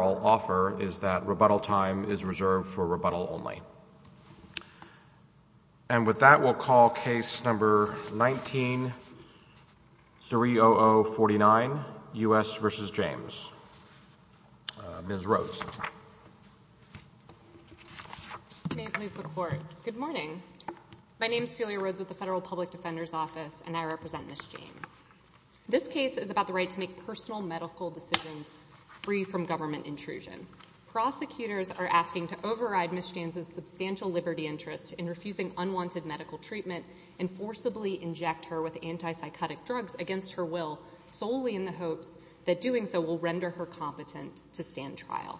offers is that rebuttal time is reserved for rebuttal only. And with that we'll call case number 19-30049, U.S. v. James. Ms. Rhodes. Good morning. My name is Celia Rhodes with the Federal Public Defender's Office and I represent Ms. James. This case is about the free from government intrusion. Prosecutors are asking to override Ms. James' substantial liberty interest in refusing unwanted medical treatment and forcibly inject her with anti-psychotic drugs against her will solely in the hopes that doing so will render her competent to stand trial.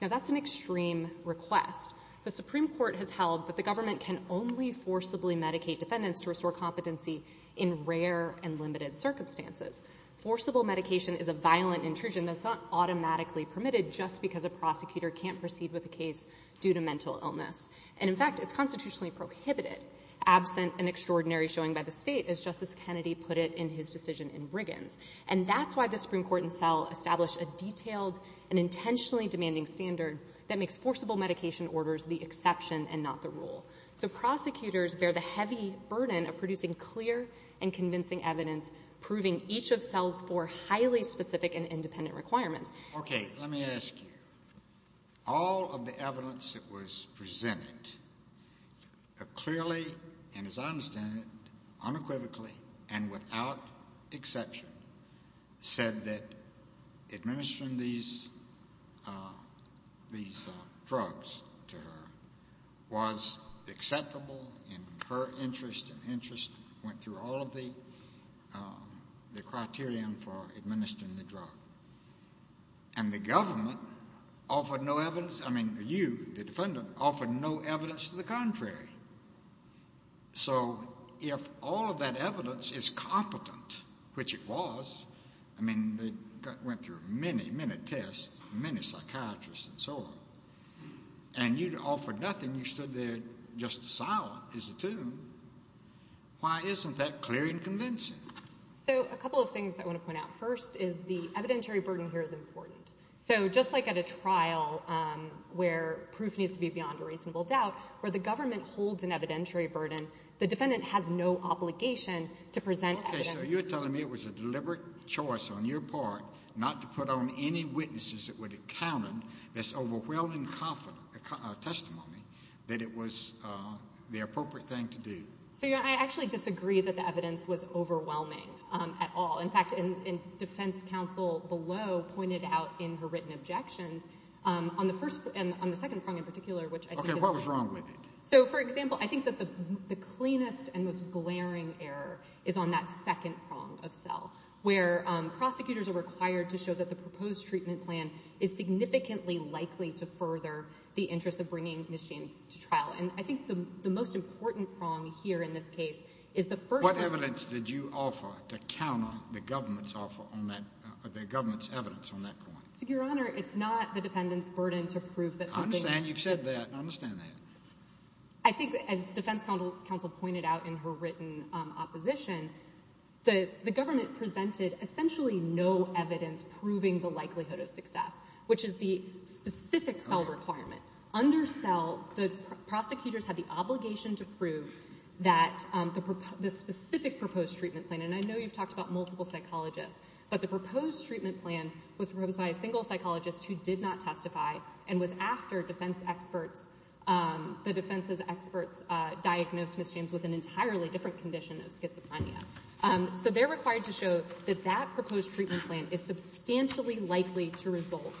Now that's an extreme request. The Supreme Court has held that the government can only forcibly medicate defendants to restore competency in rare and limited circumstances. Forcible medication is a violent intrusion that's not automatically permitted just because a prosecutor can't proceed with a case due to mental illness. And in fact, it's constitutionally prohibited absent an extraordinary showing by the state as Justice Kennedy put it in his decision in Briggins. And that's why the Supreme Court in Seattle established a detailed and intentionally demanding standard that makes forcible medication orders the exception and not the rule. So prosecutors bear the heavy burden of producing clear and convincing evidence proving each of cells for highly specific and independent requirements. Okay, let me ask you. All of the evidence that was presented clearly and as I understand it unequivocally and without exception said that administering these drugs to her was acceptable in her interest and interest went through all of the criterion for administering the drug. And the government offered no evidence, I mean you, the defendant, offered no evidence to the contrary. So if all of that evidence is competent, which it was, I mean they went through many, many tests, many psychiatrists and so on, and you offered nothing, you stood there just silent as a witness. Why isn't that clear and convincing? So a couple of things I want to point out. First is the evidentiary burden here is important. So just like at a trial where proof needs to be beyond a reasonable doubt, where the government holds an evidentiary burden, the defendant has no obligation to present evidence. Okay, so you're telling me it was a deliberate choice on your part not to put on any witnesses that would have counted this overwhelming unconfident testimony that it was the appropriate thing to do? So yeah, I actually disagree that the evidence was overwhelming at all. In fact, in defense counsel below pointed out in her written objections, on the second prong in particular, which I think is... Okay, what was wrong with it? So for example, I think that the cleanest and most glaring error is on that second prong of self, where prosecutors are required to show that the proposed treatment plan is significantly likely to further the interest of bringing Ms. James to trial. And I think the most important prong here in this case is the first... What evidence did you offer to counter the government's evidence on that point? Your Honor, it's not the defendant's burden to prove that something... I understand you've said that. I understand that. I think as defense counsel pointed out in her written opposition, that the government presented essentially no evidence proving the likelihood of success, which is the specific cell requirement. Under cell, the prosecutors had the obligation to prove that the specific proposed treatment plan, and I know you've talked about multiple psychologists, but the proposed treatment plan was proposed by a single psychologist who did not testify and was after defense experts, the defense's experts diagnosed Ms. James with an entirely different condition of schizophrenia. So they're required to show that that proposed treatment plan is substantially likely to result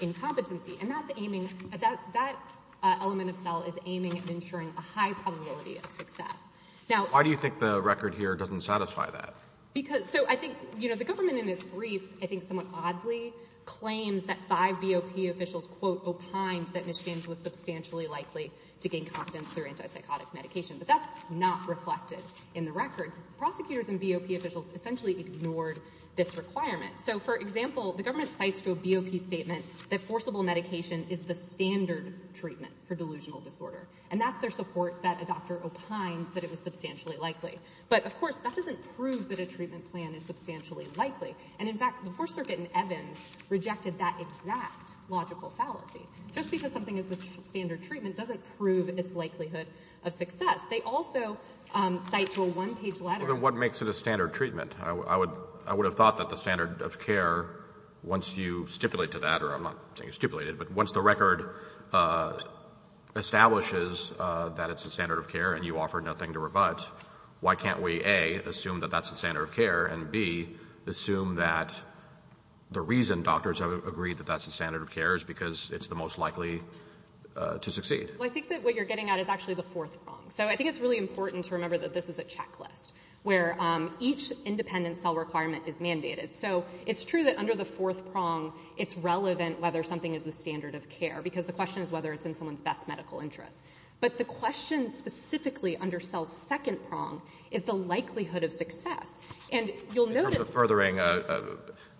in competency, and that's aiming... That element of cell is aiming at ensuring a high probability of success. Now... Why do you think the record here doesn't satisfy that? Because... So I think, you know, the government in its brief, I think somewhat oddly, claims that five BOP officials, quote, opined that Ms. James was substantially likely to gain competence through antipsychotic medication, but that's not reflected in the record. Prosecutors and BOP officials essentially ignored this requirement. So, for example, the government cites to a BOP statement that forcible medication is the standard treatment for delusional disorder, and that's their support that a doctor opined that it was substantially likely. But, of course, that doesn't prove that a treatment plan is substantially likely, and in fact, the Fourth Circuit in Evans rejected that exact logical fallacy. Just because something is the standard treatment doesn't prove its cite to a one-page letter. Well, then what makes it a standard treatment? I would have thought that the standard of care, once you stipulate to that, or I'm not saying stipulate it, but once the record establishes that it's the standard of care and you offer nothing to rebut, why can't we, A, assume that that's the standard of care, and, B, assume that the reason doctors have agreed that that's the standard of care is because it's the most likely to succeed? Well, I think that what you're getting at is actually the fourth wrong. So I think it's really important to remember that this is a checklist, where each independent cell requirement is mandated. So it's true that under the fourth prong, it's relevant whether something is the standard of care, because the question is whether it's in someone's best medical interest. But the question specifically under cell's second prong is the likelihood of success. And you'll notice — In terms of furthering,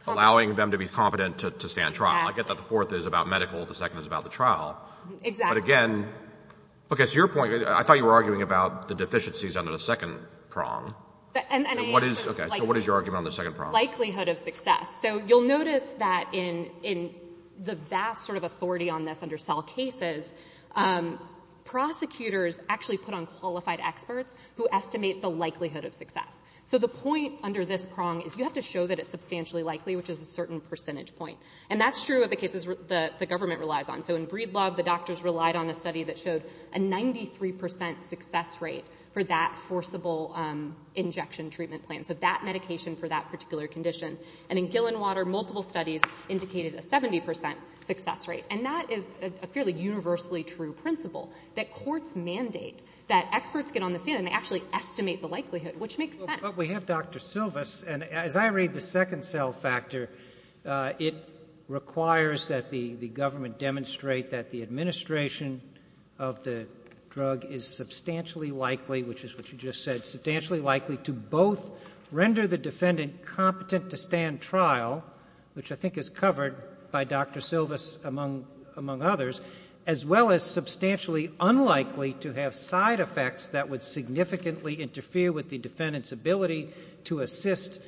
allowing them to be competent to stand trial. Exactly. I get that the fourth is about medical, the second is about the trial. Exactly. But again — Okay, so your point — I thought you were arguing about the deficiencies under the second prong. And I — Okay, so what is your argument on the second prong? Likelihood of success. So you'll notice that in the vast sort of authority on this under cell cases, prosecutors actually put on qualified experts who estimate the likelihood of success. So the point under this prong is you have to show that it's substantially likely, which is a certain percentage point. And that's true of the cases the government relies on. So in Breedlove, the doctors relied on a study that showed a 93% success rate for that forcible injection treatment plan. So that medication for that particular condition. And in Gillenwater, multiple studies indicated a 70% success rate. And that is a fairly universally true principle, that courts mandate that experts get on the scene and they actually estimate the likelihood, which makes sense. But we have Dr. Silvas, and as I read the second cell factor, it requires that the government demonstrate that the administration of the drug is substantially likely, which is what you just said, substantially likely to both render the defendant competent to stand trial, which I think is covered by Dr. Silvas, among others, as well as substantially unlikely to have side effects that would significantly interfere with the defendant's ability to assist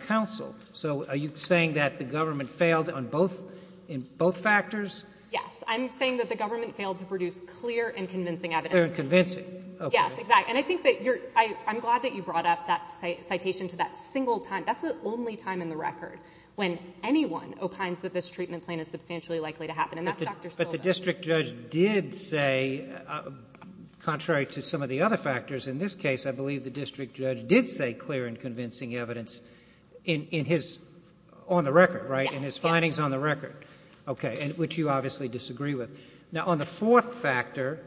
counsel. So are you saying that the government failed on both — in both factors? Yes. I'm saying that the government failed to produce clear and convincing evidence. Clear and convincing. Yes. Exactly. And I think that you're — I'm glad that you brought up that citation to that single time. That's the only time in the record when anyone opines that this treatment plan is substantially likely to happen. And that's Dr. Silvas. But the district judge did say, contrary to some of the other factors in this case, I believe the district judge did say clear and convincing evidence in his — on the record, right? Yes. In his findings on the record. Okay. And which you obviously disagree with. Now, on the fourth factor,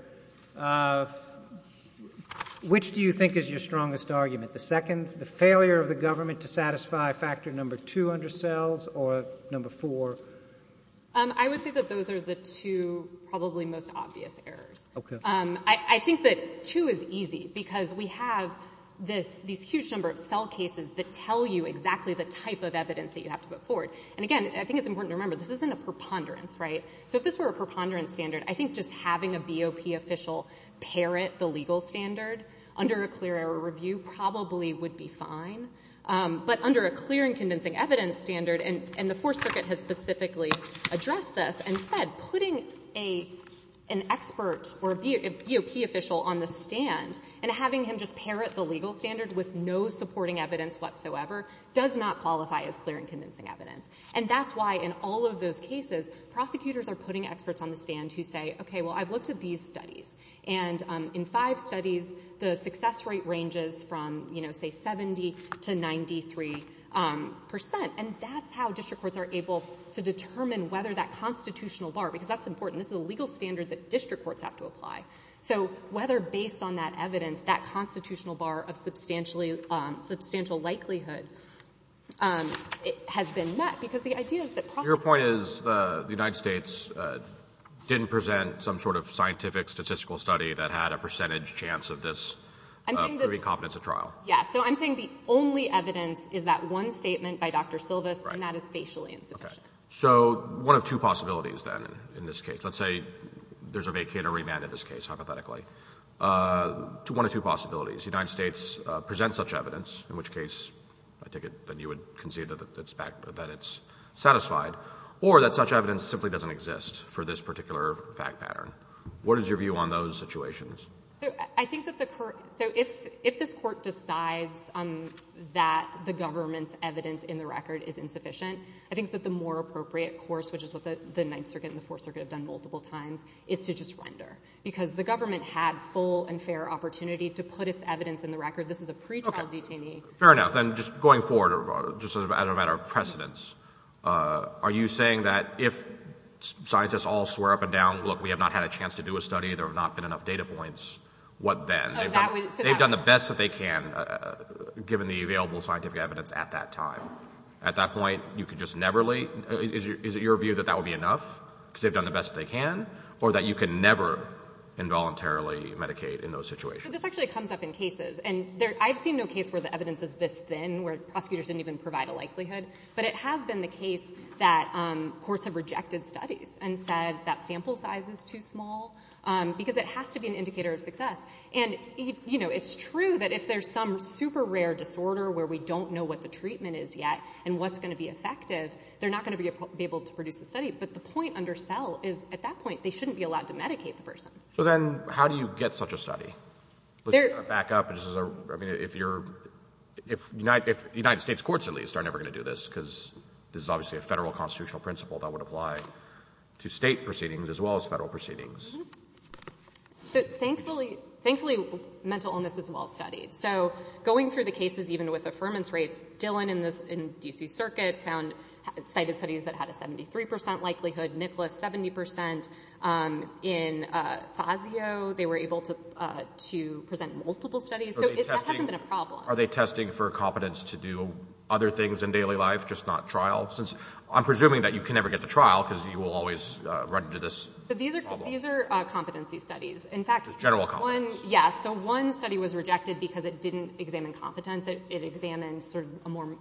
which do you think is your strongest argument? The second, the failure of the government to satisfy factor number two under cells, or number four? I would say that those are the two probably most obvious errors. Okay. I think that two is easy, because we have this — these huge number of cell cases that tell you exactly the type of evidence that you have to put forward. And again, I think it's important to remember, this isn't a preponderance, right? So if this were a preponderance standard, I think just having a BOP official parrot the legal standard under a clear error review probably would be fine. But under a clear and convincing evidence standard — and the Fourth Circuit has specifically addressed this and said putting an expert or a BOP official on the stand and having him just parrot the legal standard with no supporting evidence whatsoever does not qualify as clear and convincing evidence. And that's why in all of those cases, prosecutors are putting experts on the stand who say, okay, well, I've looked at these studies. And in five studies, the success rate ranges from, you know, say 70 to 93 percent. And that's how district courts are able to determine whether that constitutional bar — because that's important. This is a legal standard that district courts have to apply. So whether, based on that evidence, that constitutional bar of substantial likelihood has been met, because the idea is that prosecutors — Your point is the United States didn't present some sort of scientific statistical study that had a percentage chance of this proving competence at trial. Yes. So I'm saying the only evidence is that one statement by Dr. Silvas, and that is facial insufficiency. Okay. So one of two possibilities, then, in this case. Let's say there's a vacate or remand in this case, hypothetically. One of two possibilities. The United States presents such evidence, in which case I take it that you would concede that it's satisfied, or that such evidence simply doesn't exist for this particular fact pattern. What is your view on those situations? So I think that the — so if this Court decides that the government's evidence in the record is insufficient, I think that the more appropriate course, which is what the Ninth Circuit and the Fourth Circuit have done multiple times, is to just render. Because the government had full and fair opportunity to put its evidence in the record. This is a pretrial detainee. Okay. Fair enough. Then just going forward, just as a matter of precedence, are you saying that if scientists all swear up and down, look, we have not had a chance to do a study, there have not been enough data points, what then? Oh, that would — They've done the best that they can, given the available scientific evidence at that time. At that point, you could just never leave? Is it your view that that would be enough, because they've done the best that they can, or that you can never involuntarily medicate in those situations? So this actually comes up in cases. And I've seen no case where the evidence is this thin, where prosecutors didn't even provide a likelihood. But it has been the case that courts have rejected studies and said that sample size is too small, because it has to be an indicator of success. And, you know, it's true that if there's some super rare disorder where we don't know what the treatment is yet and what's going to be effective, they're not going to be able to produce a study. But the point under Sell is, at that point, they shouldn't be allowed to medicate the person. So then how do you get such a study? They're — Back up. This is a — I mean, if you're — if United States courts, at least, are that would apply to state proceedings as well as federal proceedings. Mm-hmm. So thankfully — thankfully, mental illness is well-studied. So going through the cases, even with affirmance rates, Dillon in this — in D.C. Circuit found — cited studies that had a 73 percent likelihood. Nicholas, 70 percent. In Fazio, they were able to — to present multiple studies. So that hasn't been a problem. Are they testing for competence to do other things in daily life, just not trial? Since I'm presuming that you can never get to trial because you will always run into this problem. So these are — these are competency studies. In fact — Just general competence. One — yes. So one study was rejected because it didn't examine competence. It examined sort of a more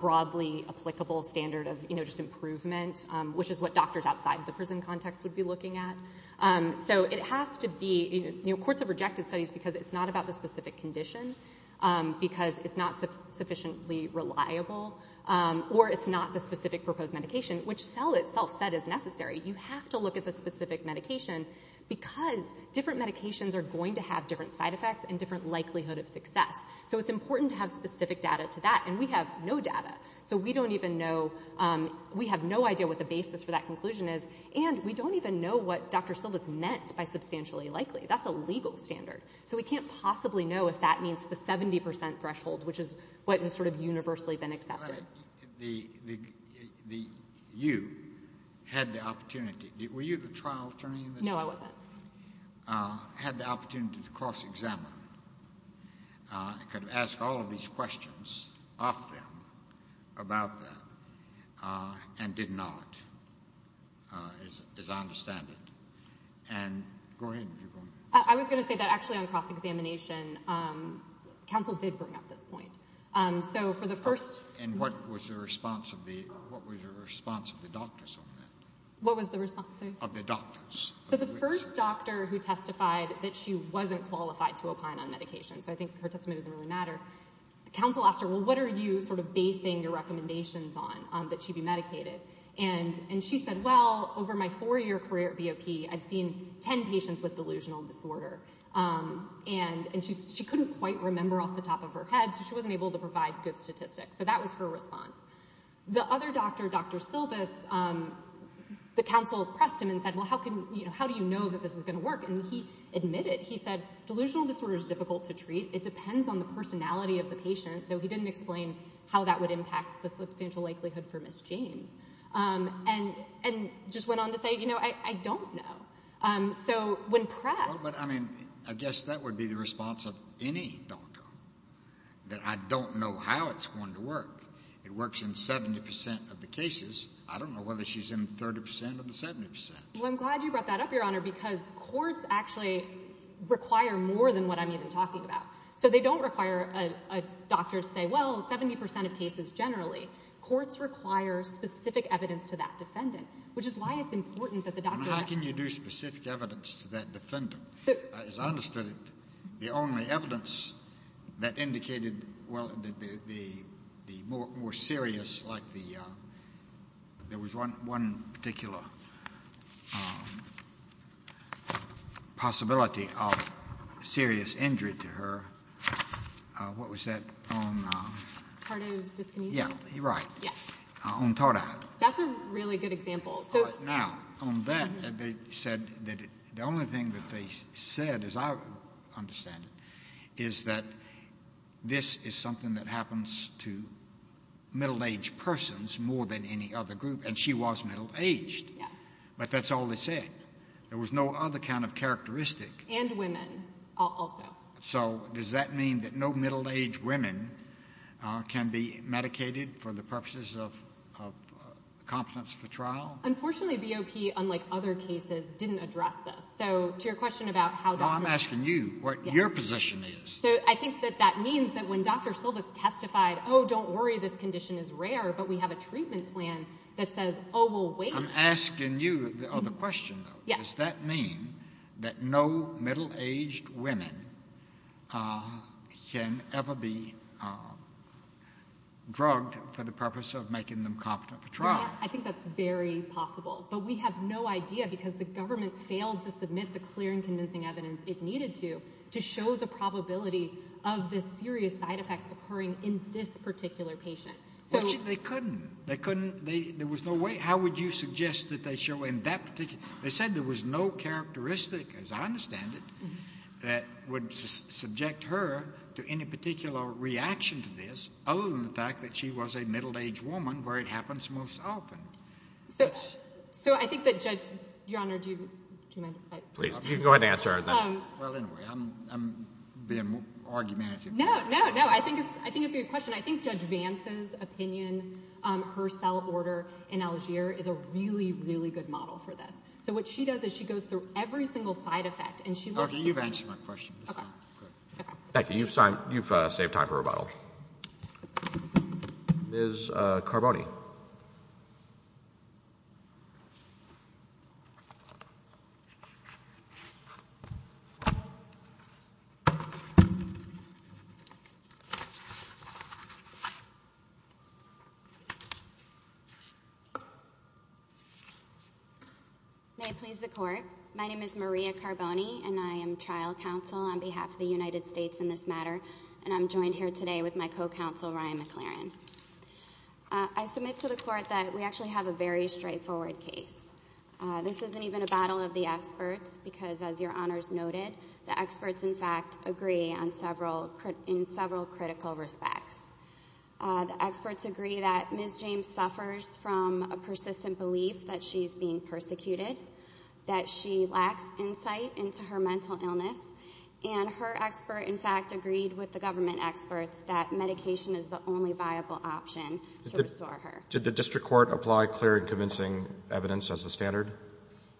broadly applicable standard of, you know, just improvement, which is what doctors outside the prison context would be looking at. So it has to be — you know, courts have rejected studies because it's not about the specific condition, because it's not sufficiently reliable, or it's not the specific proposed medication, which Cell itself said is necessary. You have to look at the specific medication because different medications are going to have different side effects and different likelihood of success. So it's important to have specific data to that. And we have no data. So we don't even know — we have no idea what the basis for that conclusion is. And we don't even know what Dr. Silva's meant by substantially likely. That's a legal standard. So we can't possibly know if that means the 70 percent threshold, which is what has sort of universally been accepted. The — you had the opportunity — were you the trial attorney in this case? No, I wasn't. Had the opportunity to cross-examine, could ask all of these questions of them, about them, and did not, as I understand it. And — go ahead, if you're going to — I was going to say that actually on cross-examination, counsel did bring up this point. So for the first — And what was the response of the — what was the response of the doctors on that? What was the response, sorry? Of the doctors. So the first doctor who testified that she wasn't qualified to opine on medication — so I think her testimony doesn't really matter — counsel asked her, well, what are you sort of basing your recommendations on, that she be medicated? And she said, well, over my four-year career at BOP, I've seen 10 patients with delusional disorder. And she couldn't quite remember off the top of her head, so she wasn't able to provide good statistics. So that was her response. The other doctor, Dr. Silvis, the counsel pressed him and said, well, how can — you know, how do you know that this is going to work? And he admitted, he said, delusional disorder is difficult to treat. It depends on the personality of the patient, though he didn't explain how that would impact the substantial likelihood for Ms. James. And just went on to say, you know, I don't know. So when pressed — Well, but, I mean, I guess that would be the response of any doctor, that I don't know how it's going to work. It works in 70 percent of the cases. I don't know whether she's in 30 percent of the 70 percent. Well, I'm glad you brought that up, Your Honor, because courts actually require more than what I'm even talking about. So they don't require a doctor to say, well, 70 percent of cases generally. Courts require specific evidence to that defendant, which is why it's important that the doctor — And how can you do specific evidence to that defendant? As I understood it, the only evidence that indicated, well, the more serious, like the — there was one particular possibility of serious injury to her. What was that on — Tardive dyskinesia? Yeah. You're right. Yes. On Tardive. That's a really good example. So — Now, on that, they said that the only thing that they said, as I understand it, is that this is something that happens to middle-aged persons more than any other group, and she was middle-aged. Yes. But that's all they said. There was no other kind of characteristic. And women also. So does that mean that no middle-aged women can be medicated for the purposes of competence for trial? Unfortunately, BOP, unlike other cases, didn't address this. So to your question about how doctors — No, I'm asking you what your position is. So I think that that means that when Dr. Silvas testified, oh, don't worry, this condition is rare, but we have a treatment plan that says, oh, we'll wait — I'm asking you the other question, though. Yes. Does that mean that no middle-aged women can ever be drugged for the purpose of making them competent for trial? I think that's very possible. But we have no idea because the government failed to submit the clear and convincing evidence it needed to, to show the probability of the serious side effects occurring in this particular patient. They couldn't. They couldn't — there was no way — how would you suggest that they show in that particular — they said there was no characteristic, as I understand it, that would subject her to any particular reaction to this, other than the fact that she was a middle-aged woman, where it happens most often. So I think that Judge — Your Honor, do you mind if I — Please. You can go ahead and answer her, then. Well, anyway, I'm being argumentative. No, no, no. I think it's — I think it's a good question. I think Judge Vance's opinion, her cell order in Algier, is a really, really good model for this. So what she does is she goes through every single side effect, and she lists — Okay, you've answered my question. Thank you. You've saved time for rebuttal. Ms. Carboni. May it please the Court. My name is Maria Carboni, and I am trial counsel on behalf of the United States in this matter, and I'm joined here today with my co-counsel, Ryan McLaren. I submit to the Court that we actually have a very straightforward case. This isn't even a battle of the experts, because as Your Honors noted, the experts, in fact, agree on several critical respects. The experts agree that Ms. James suffers from a persistent belief that she's being persecuted, that she lacks insight into her mental illness, and her expert, in fact, agreed with the government experts that medication is the only viable option to restore her. Did the district court apply clear and convincing evidence as the standard?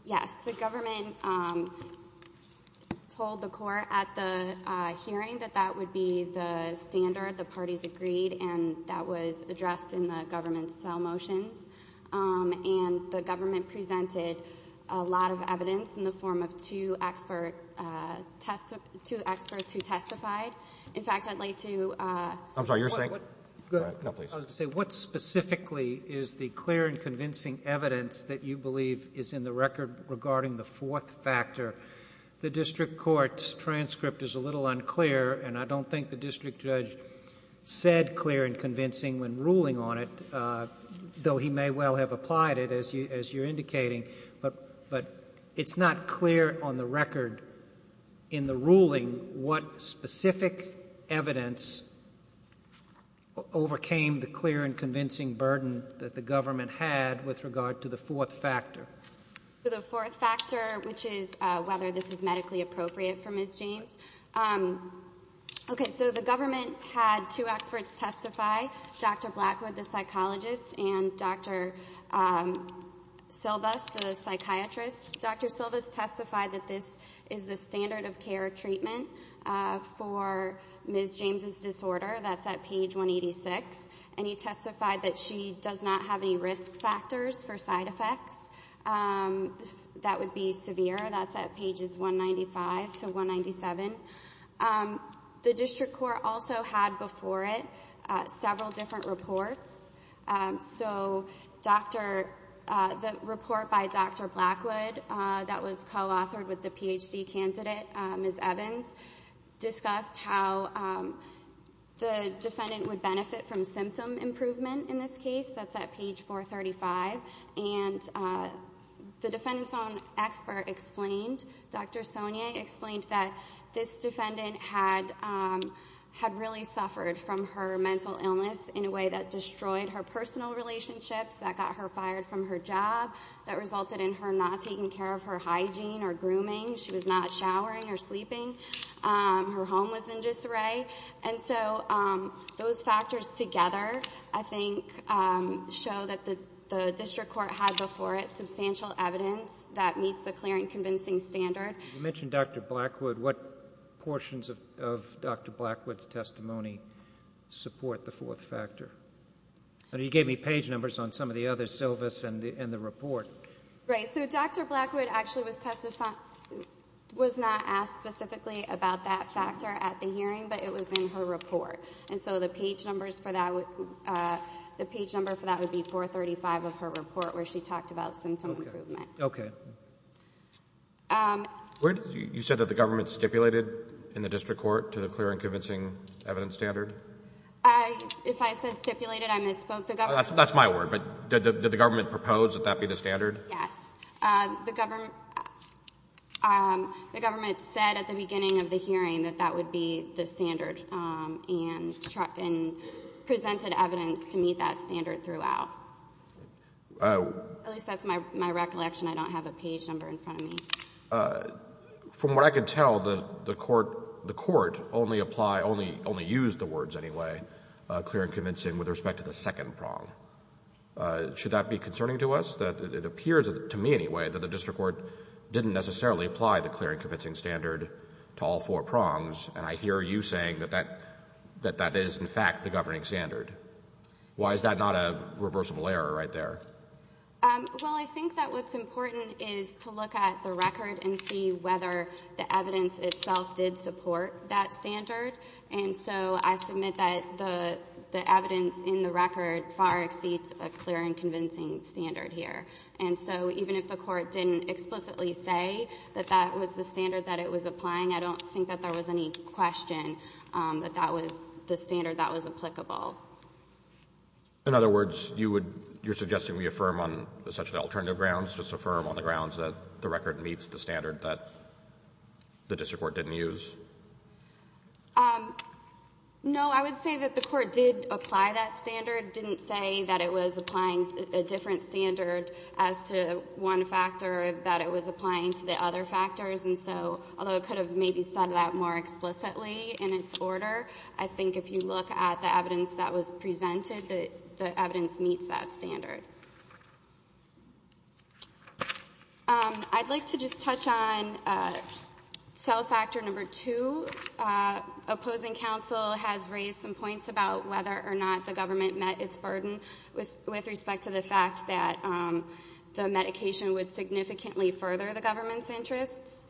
Yes. The government told the court at the hearing that that would be the standard. The parties agreed, and that was addressed in the government's cell motions. And the government presented a lot of evidence in the form of two experts who testified. In fact, I'd like to — I'm sorry, you're saying — Go ahead. No, please. I was going to say, what specifically is the clear and convincing evidence that you believe is in the record regarding the fourth factor? The district court's transcript is a little unclear, and I don't think the district judge said clear and convincing when ruling on it, though he may well have applied it, as you're indicating. But it's not clear on the record in the ruling what specific evidence overcame the clear and convincing burden that the government had with regard to the fourth factor. So the fourth factor, which is whether this is medically appropriate for Ms. James. Okay, so the government had two experts testify, Dr. Blackwood, the psychologist, and Dr. Silvas, the psychiatrist. Dr. Silvas testified that this is the standard of care treatment for Ms. James' disorder. That's at page 186. And he testified that she does not have any risk factors for side effects that would be severe. That's at pages 195 to 197. The district court also had before it several different reports. So, Dr. — the report by Dr. Silvas, the report by Dr. Blackwood, that was co-authored with the PhD candidate, Ms. Evans, discussed how the defendant would benefit from symptom improvement in this case. That's at page 435. And the defendant's own expert explained, Dr. Sonia explained that this defendant had really suffered from her mental illness in a way that destroyed her personal relationships, that got her fired from her job, that resulted in her not taking care of her hygiene or grooming. She was not showering or sleeping. Her home was in disarray. And so those factors together I think show that the district court had before it substantial evidence that meets the clear and convincing standard. You mentioned Dr. Blackwood. What portions of Dr. Blackwood's testimony support the fourth and some of the others, Silvas and the report? Right. So Dr. Blackwood actually was not asked specifically about that factor at the hearing, but it was in her report. And so the page numbers for that would be 435 of her report where she talked about symptom improvement. Okay. You said that the government stipulated in the district court to the clear and convincing evidence standard? If I said stipulated, I misspoke. That's my word. But did the government propose that that be the standard? Yes. The government said at the beginning of the hearing that that would be the standard and presented evidence to meet that standard throughout. At least that's my recollection. I don't have a page number in front of me. From what I can tell, the court only applied, only used the words anyway, clear and convincing with respect to the second prong. Should that be concerning to us? It appears to me anyway that the district court didn't necessarily apply the clear and convincing standard to all four prongs, and I hear you saying that that is, in fact, the governing standard. Why is that not a reversible error right there? Well, I think that what's important is to look at the record and see whether the evidence itself did support that standard. And so I submit that the evidence in the record far exceeds a clear and convincing standard here. And so even if the court didn't explicitly say that that was the standard that it was applying, I don't think that there was any question that that was the standard that was applicable. In other words, you would you're suggesting we affirm on such alternative grounds, just affirm on the grounds that the record meets the standard that the district court didn't use? No. I would say that the court did apply that standard, didn't say that it was applying a different standard as to one factor, that it was applying to the other factors. And so, although it could have maybe said that more explicitly in its order, I think if you look at the evidence that was presented, the evidence meets that standard. I'd like to just touch on self-factor number two. Opposing counsel has raised some points about whether or not the government met its burden with respect to the fact that the medication would significantly further the government's interests.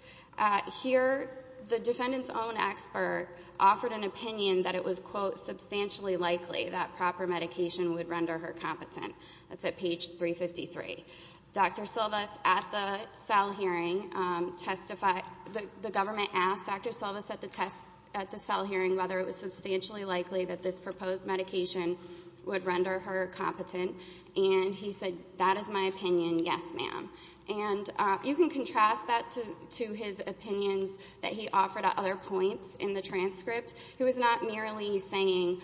Here, the defendant's own expert offered an opinion that it was, quote, substantially likely that proper medication would render her competent. That's at page 353. Dr. Silvas at the cell hearing testified, the government asked Dr. Silvas at the test at the cell hearing whether it was substantially likely that this proposed medication would render her competent, and he said, that is my opinion, yes ma'am. And you can contrast that to his opinions that he offered at other points in the transcript. He was not merely saying,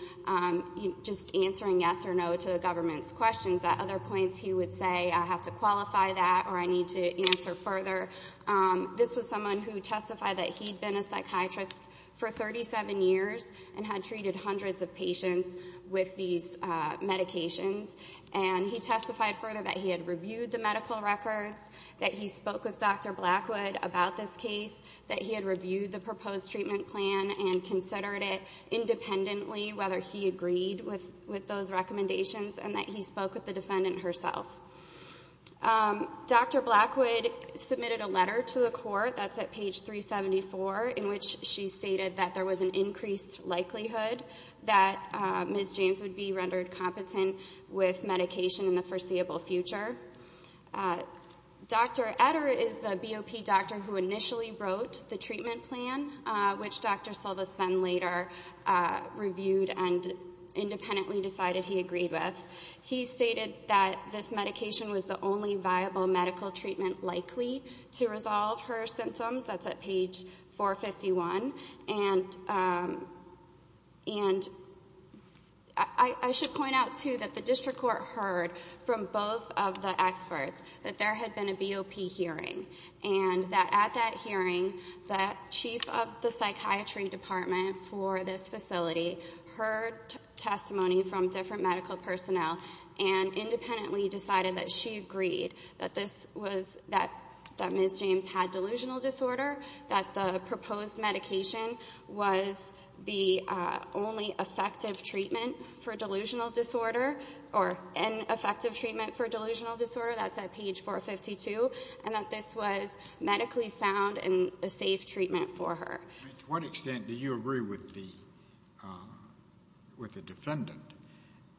just answering yes or no to the government's questions. At other points, he would say, I have to qualify that or I need to answer further. This was someone who testified that he'd been a psychiatrist for 37 years and had treated hundreds of patients with these medications. And he testified further that he had reviewed the medical records, that he spoke with Dr. Blackwood about this case, that he had reviewed the proposed treatment plan and considered it independently whether he agreed with those recommendations, and that he spoke with the defendant herself. Dr. Blackwood submitted a letter to the court, that's at page 374, in which she stated that there was an increased likelihood that Ms. James would be rendered competent with medication in the foreseeable future. Dr. Etter is the BOP doctor who initially wrote the treatment plan, which Dr. Silvas then later reviewed and independently decided he agreed with. He stated that this medication was the only viable medical treatment likely to resolve her symptoms, that's at page 451. And I should point out, too, that the district court heard from both of the experts that there had been a BOP hearing, and that at that hearing, the chief of the psychiatry department for this facility heard testimony from different medical personnel and independently decided that she agreed that Ms. James had delusional disorder, that the proposed medication was the only effective treatment for delusional disorder, or ineffective treatment for delusional disorder, that's at page 452, and that this was medically sound and a safe treatment for her. To what extent do you agree with the defendant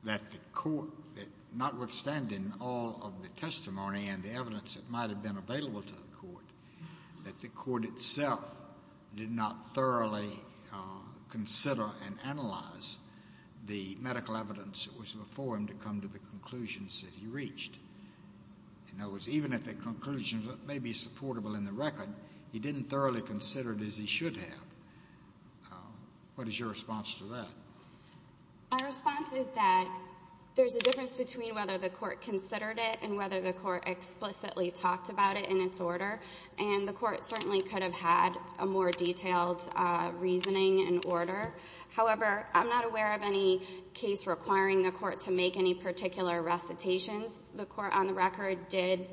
that the court, notwithstanding all of the testimony and the evidence that might have been available to the court, that the court itself did not thoroughly consider and analyze the medical evidence that was before him to come to the conclusions that he reached? In other words, even if the conclusions may be supportable in the record, he didn't thoroughly consider it as he should have. What is your response to that? My response is that there's a difference between whether the court considered it and whether the court explicitly talked about it in its order, and the court certainly could have had a more detailed reasoning and order. However, I'm not aware of any case requiring the court to make any particular recitations. The court on the record did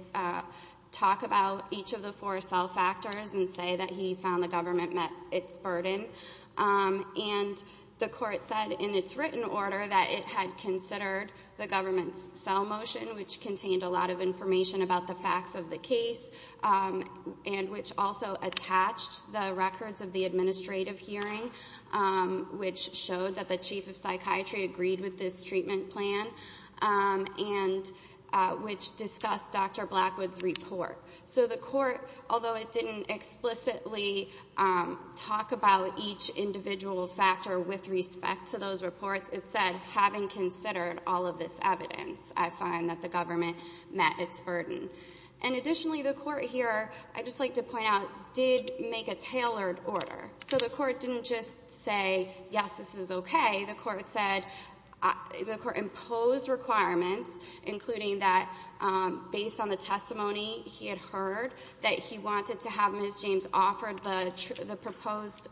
talk about each of the four cell factors and say that he found the government met its burden. And the court said in its written order that it had considered the government's cell motion, which contained a lot of information about the facts of the case and which also attached the records of the administrative hearing, which showed that the chief of psychiatry agreed with this treatment plan, and which discussed Dr. Blackwood's report. So the court, although it didn't explicitly talk about each individual factor with respect to those reports, it said, having considered all of this evidence, I find that the government met its burden. And additionally, the court here, I'd just like to point out, did make a tailored order. So the court didn't just say, yes, this is okay. The court said, the court imposed requirements, including that based on the testimony he had heard, that he wanted to have Ms. James offer the proposed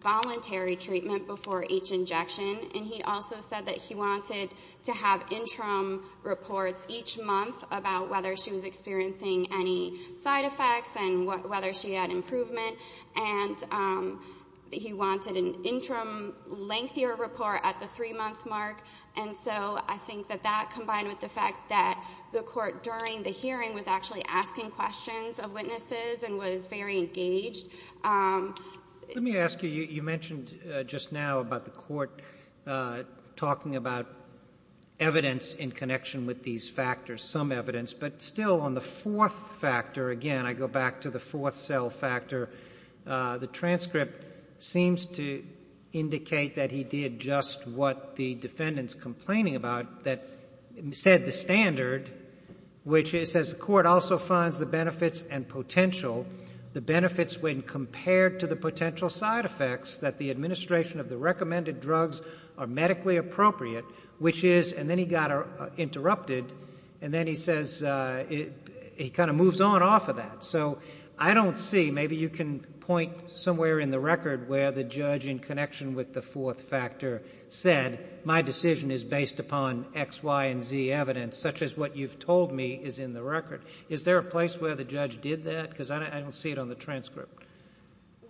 voluntary treatment before each injection, and he also said that he wanted to have interim reports each month about whether she was experiencing any side effects and whether she had improvement. And he wanted an interim, lengthier report at the three-month mark. And so I think that that, combined with the fact that the court during the hearing was actually asking questions of witnesses and was very engaged. Let me ask you, you mentioned just now about the court talking about evidence in connection with these factors, some evidence, but still on the fourth factor, again, I go back to the fourth cell factor, the transcript seems to indicate that he did just what the defendant's complaining about, that said the standard, which is, as the court also finds the benefits and potential, the benefits when compared to the potential side effects, that the administration of the recommended drugs are medically appropriate, which is, and then he got interrupted, and then he says, he kind of moves on off of that. So I don't see, maybe you can point somewhere in the record where the judge in connection with the fourth factor said, my decision is based upon X, Y, and Z evidence, such as what you've told me is in the record. Is there a place where the judge did that? Because I don't see it on the transcript.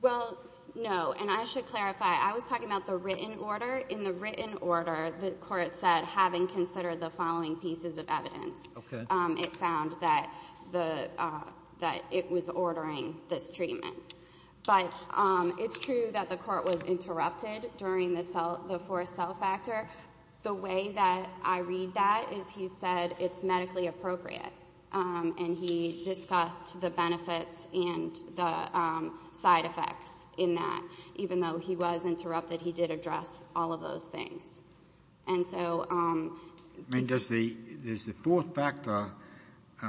Well, no, and I should clarify, I was talking about the written order. In the written order, the court said, having considered the following pieces of evidence, it found that it was ordering this treatment. But it's true that the court was interrupted during the fourth cell factor. The way that I read that is he said it's medically appropriate, and he discussed the benefits and the side effects in that. Even though he was interrupted, he did address all of those things. And so... I mean, does the fourth factor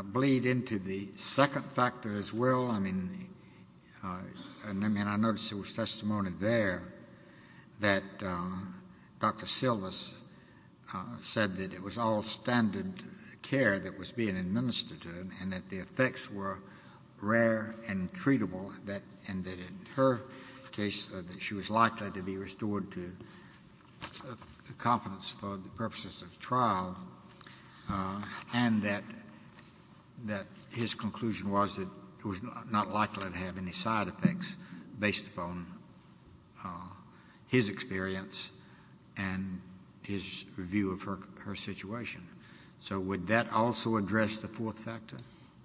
bleed into the second factor as well? I mean, I noticed there was testimony there that Dr. Silvers said that it was all standard care that was being administered to her, and that the effects were rare and treatable, and that in her case she was likely to be restored to competence for the purposes of trial, and that his conclusion was that it was not likely to have any side effects based upon his experience and his review of her situation. So would that also address the fourth factor?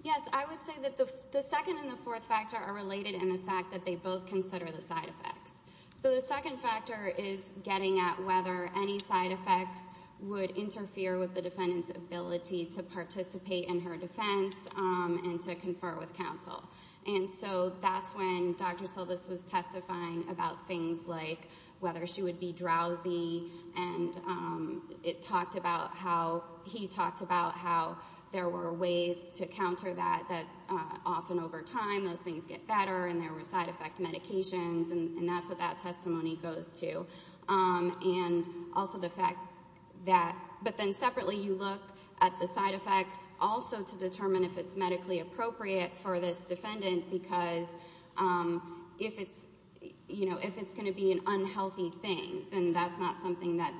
Yes. I would say that the second and the fourth factor are related in the fact that they both consider the side effects. So the second factor is getting at whether any side effects would interfere with the defendant's ability to participate in her defense and to confer with counsel. And so that's when Dr. Silvers was testifying about things like whether she would be drowsy, and he talked about how there were ways to counter that, that often over time those things get better and there were side effect medications, and that's what that testimony goes to. And also the fact that... But then separately you look at the side effects also to determine if it's medically appropriate for this defendant, because if it's going to be an unhealthy thing, then that's not something that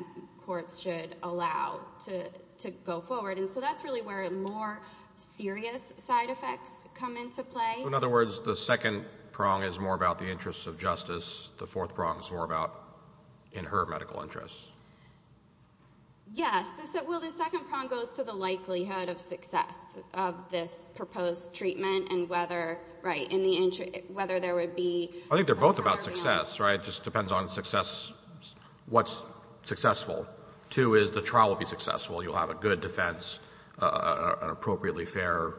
courts should allow to go forward. And so that's really where more serious side effects come into play. So in other words, the second prong is more about the interests of justice, the fourth prong is more about in her medical interests. Yes. Well, the second prong goes to the likelihood of success of this proposed treatment and whether, right, whether there would be... I think they're both about success, right? It just depends on success, what's successful. Two is the trial will be successful. You'll have a good defense, an appropriately fair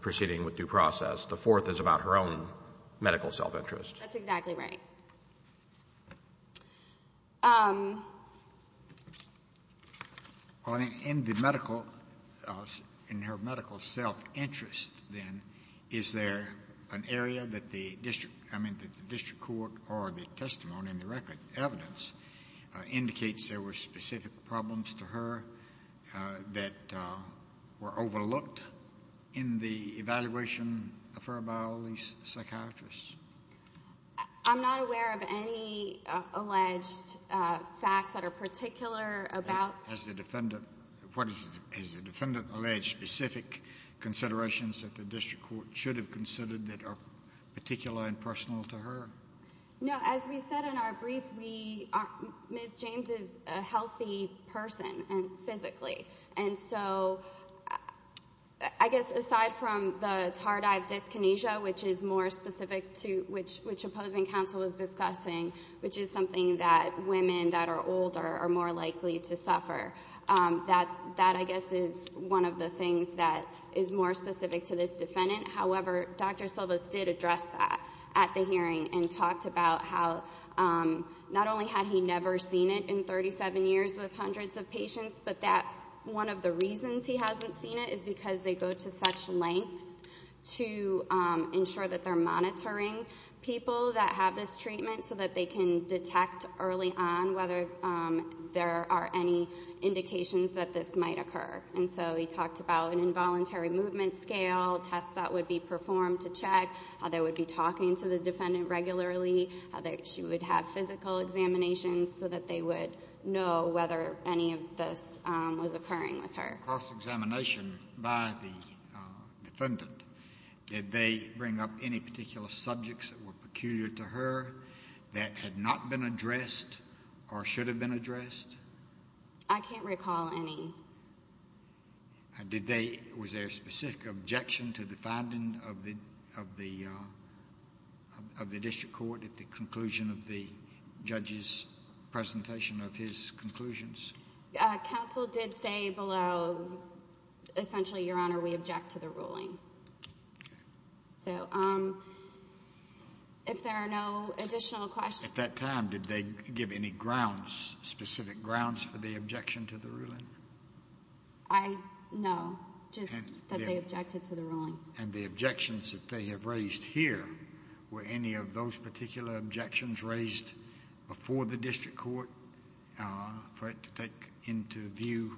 proceeding with due process. The fourth is about her own medical self-interest. That's exactly right. Okay. In the medical, in her medical self-interest, then, is there an area that the district court or the testimony in the record, evidence, indicates there were specific problems to her that were overlooked in the evaluation of her by all these psychiatrists? I'm not aware of any alleged facts that are particular about... Has the defendant alleged specific considerations that the district court should have considered that are particular and personal to her? No. As we said in our brief, Ms. James is a healthy person physically. And so I guess aside from the tardive dyskinesia, which is more specific to which opposing counsel is discussing, which is something that women that are older are more likely to suffer, that I guess is one of the things that is more specific to this defendant. However, Dr. Silvas did address that at the hearing and talked about how not only had he never seen it in 37 years with hundreds of patients, but that one of the reasons he hasn't seen it is because they go to such lengths to ensure that they're monitoring people that have this treatment so that they can detect early on whether there are any indications that this might occur. And so he talked about an involuntary movement scale, tests that would be performed to check, how they would be talking to the defendant regularly, how she would have physical examinations so that they would know whether any of this was occurring with her. Cross-examination by the defendant. Did they bring up any particular subjects that were peculiar to her that had not been addressed or should have been addressed? I can't recall any. Was there a specific objection to the finding of the district court at the conclusion of the judge's presentation of his conclusions? Counsel did say below, essentially, Your Honor, we object to the ruling. Okay. So if there are no additional questions. At that time, did they give any grounds, specific grounds for the objection to the ruling? No, just that they objected to the ruling. And the objections that they have raised here, were any of those particular objections raised before the district court for it to take into view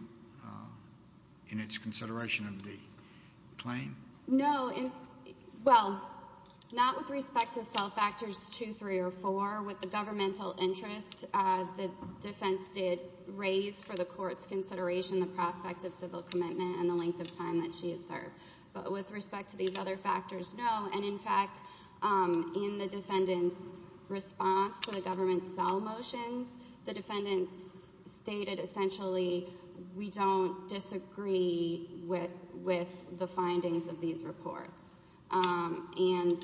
in its consideration of the claim? No. Well, not with respect to cell factors two, three, or four. With the governmental interest, the defense did raise for the court's consideration the prospect of civil commitment and the length of time that she had served. But with respect to these other factors, no. And, in fact, in the defendant's response to the government's cell motions, the defendant stated, essentially, we don't disagree with the findings of these reports. And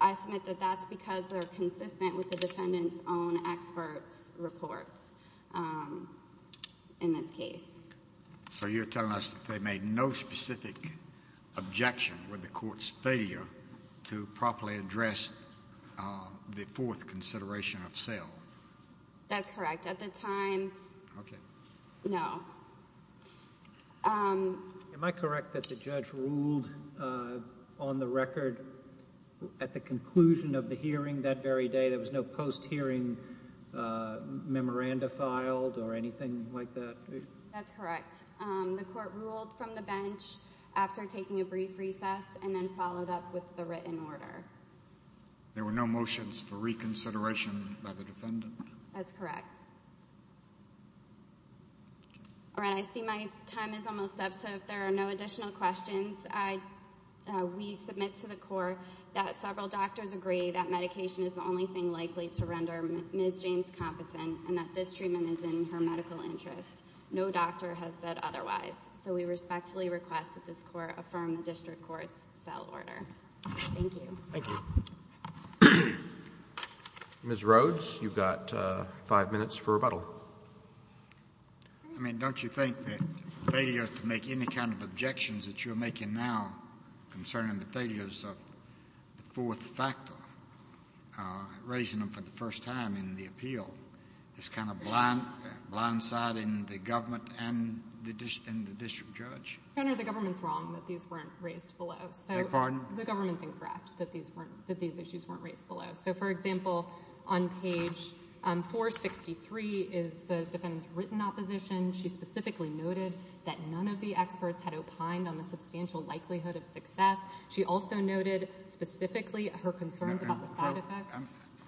I submit that that's because they're consistent with the defendant's own expert's reports in this case. So you're telling us that they made no specific objection with the court's failure to properly address the fourth consideration of cell? That's correct. At the time, no. Am I correct that the judge ruled on the record at the conclusion of the hearing that very day there was no post-hearing memoranda filed or anything like that? That's correct. The court ruled from the bench after taking a brief recess and then followed up with the written order. There were no motions for reconsideration by the defendant? That's correct. All right. I see my time is almost up, so if there are no additional questions, we submit to the court that several doctors agree that medication is the only thing likely to render Ms. James competent and that this treatment is in her medical interest. No doctor has said otherwise. So we respectfully request that this court affirm the district court's cell order. Thank you. Thank you. Ms. Rhodes, you've got five minutes for rebuttal. I mean, don't you think that failure to make any kind of objections that you're making now concerning the failures of the fourth factor, raising them for the first time in the appeal, is kind of blind-siding the government and the district judge? Your Honor, the government's wrong that these weren't raised below. I beg your pardon? The government's incorrect that these issues weren't raised below. So, for example, on page 463 is the defendant's written opposition. She specifically noted that none of the experts had opined on the substantial likelihood of success. She also noted specifically her concerns about the side effects.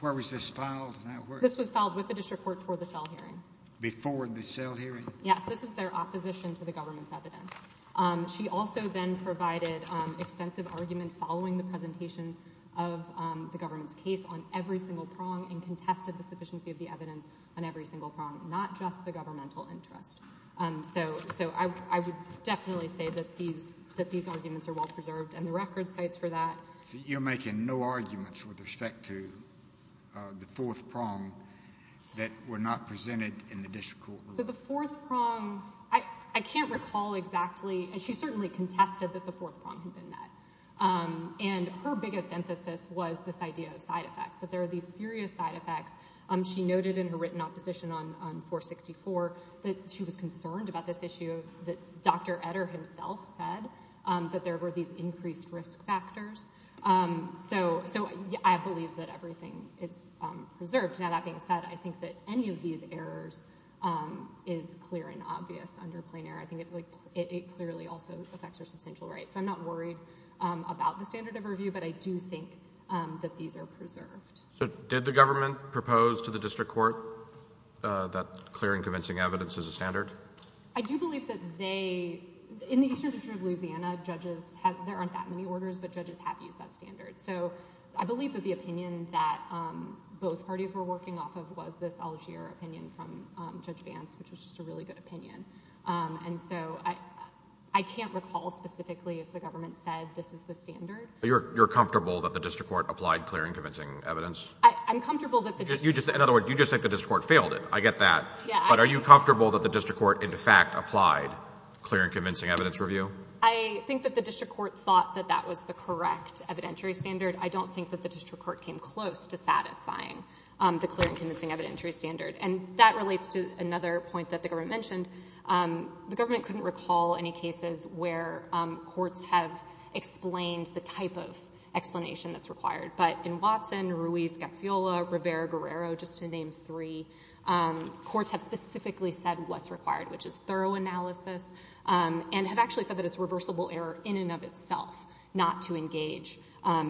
Where was this filed? This was filed with the district court for the cell hearing. Before the cell hearing? Yes. This is their opposition to the government's evidence. She also then provided extensive arguments following the presentation of the government's case on every single prong and contested the sufficiency of the evidence on every single prong, not just the governmental interest. So I would definitely say that these arguments are well-preserved, and the record cites for that. So you're making no arguments with respect to the fourth prong that were not presented in the district court? So the fourth prong, I can't recall exactly. She certainly contested that the fourth prong had been met. And her biggest emphasis was this idea of side effects, that there are these serious side effects. She noted in her written opposition on 464 that she was concerned about this issue, that Dr. Etter himself said that there were these increased risk factors. So I believe that everything is preserved. Now, that being said, I think that any of these errors is clear and obvious under plain error. I think it clearly also affects your substantial rights. So I'm not worried about the standard of review, but I do think that these are preserved. So did the government propose to the district court that clearing convincing evidence is a standard? I do believe that they—in the Eastern District of Louisiana, judges have—there aren't that many orders, but judges have used that standard. So I believe that the opinion that both parties were working off of was this Algier opinion from Judge Vance, which was just a really good opinion. And so I can't recall specifically if the government said this is the standard. You're comfortable that the district court applied clearing convincing evidence? I'm comfortable that the district court— In other words, you just think the district court failed it. I get that. But are you comfortable that the district court, in fact, applied clear and convincing evidence review? I think that the district court thought that that was the correct evidentiary standard. I don't think that the district court came close to satisfying the clear and convincing evidentiary standard. And that relates to another point that the government mentioned. The government couldn't recall any cases where courts have explained the type of explanation that's required. But in Watson, Ruiz-Gaxiola, Rivera-Guerrero, just to name three, courts have specifically said what's required, which is thorough analysis, and have actually said that it's reversible error in and of itself, not to engage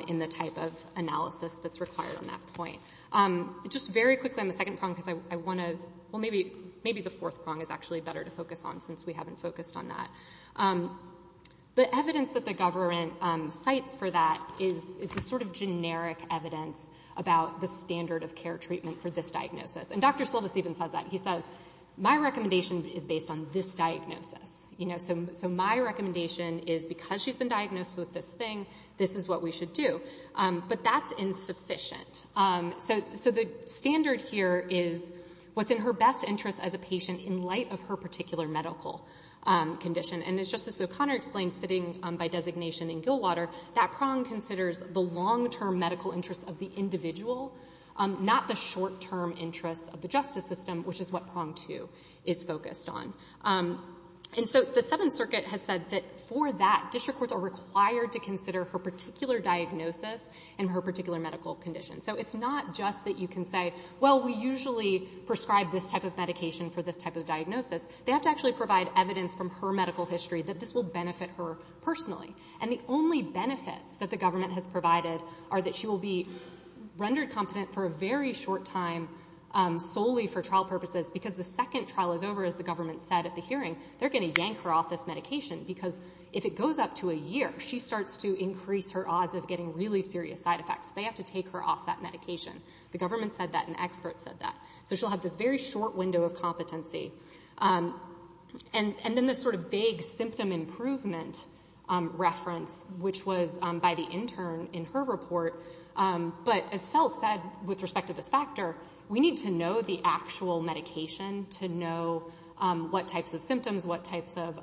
in the type of analysis that's required on that point. Just very quickly on the second prong, because I want to—well, maybe the fourth prong is actually better to focus on, since we haven't focused on that. The evidence that the government cites for that is the sort of generic evidence about the standard of care treatment for this diagnosis. And Dr. Silvas even says that. He says, my recommendation is based on this diagnosis. So my recommendation is because she's been diagnosed with this thing, this is what we should do. But that's insufficient. So the standard here is what's in her best interest as a patient in light of her particular medical condition. And as Justice O'Connor explained, sitting by designation in Gilwater, that prong considers the long-term medical interests of the individual, not the short-term interests of the justice system, which is what prong two is focused on. And so the Seventh Circuit has said that for that, So it's not just that you can say, well, we usually prescribe this type of medication for this type of diagnosis. They have to actually provide evidence from her medical history that this will benefit her personally. And the only benefits that the government has provided are that she will be rendered competent for a very short time solely for trial purposes, because the second trial is over, as the government said at the hearing, they're going to yank her off this medication because if it goes up to a year, she starts to increase her odds of getting really serious side effects. They have to take her off that medication. The government said that and experts said that. So she'll have this very short window of competency. And then this sort of vague symptom improvement reference, which was by the intern in her report, but as Sel said with respect to this factor, we need to know the actual medication to know what types of symptoms, what types of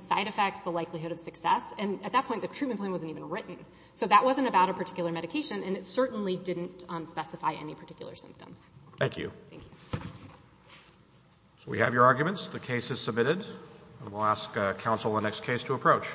side effects, the likelihood of success. And at that point, the treatment plan wasn't even written. So that wasn't about a particular medication, and it certainly didn't specify any particular symptoms. Thank you. Thank you. So we have your arguments. The case is submitted. And we'll ask counsel in the next case to approach.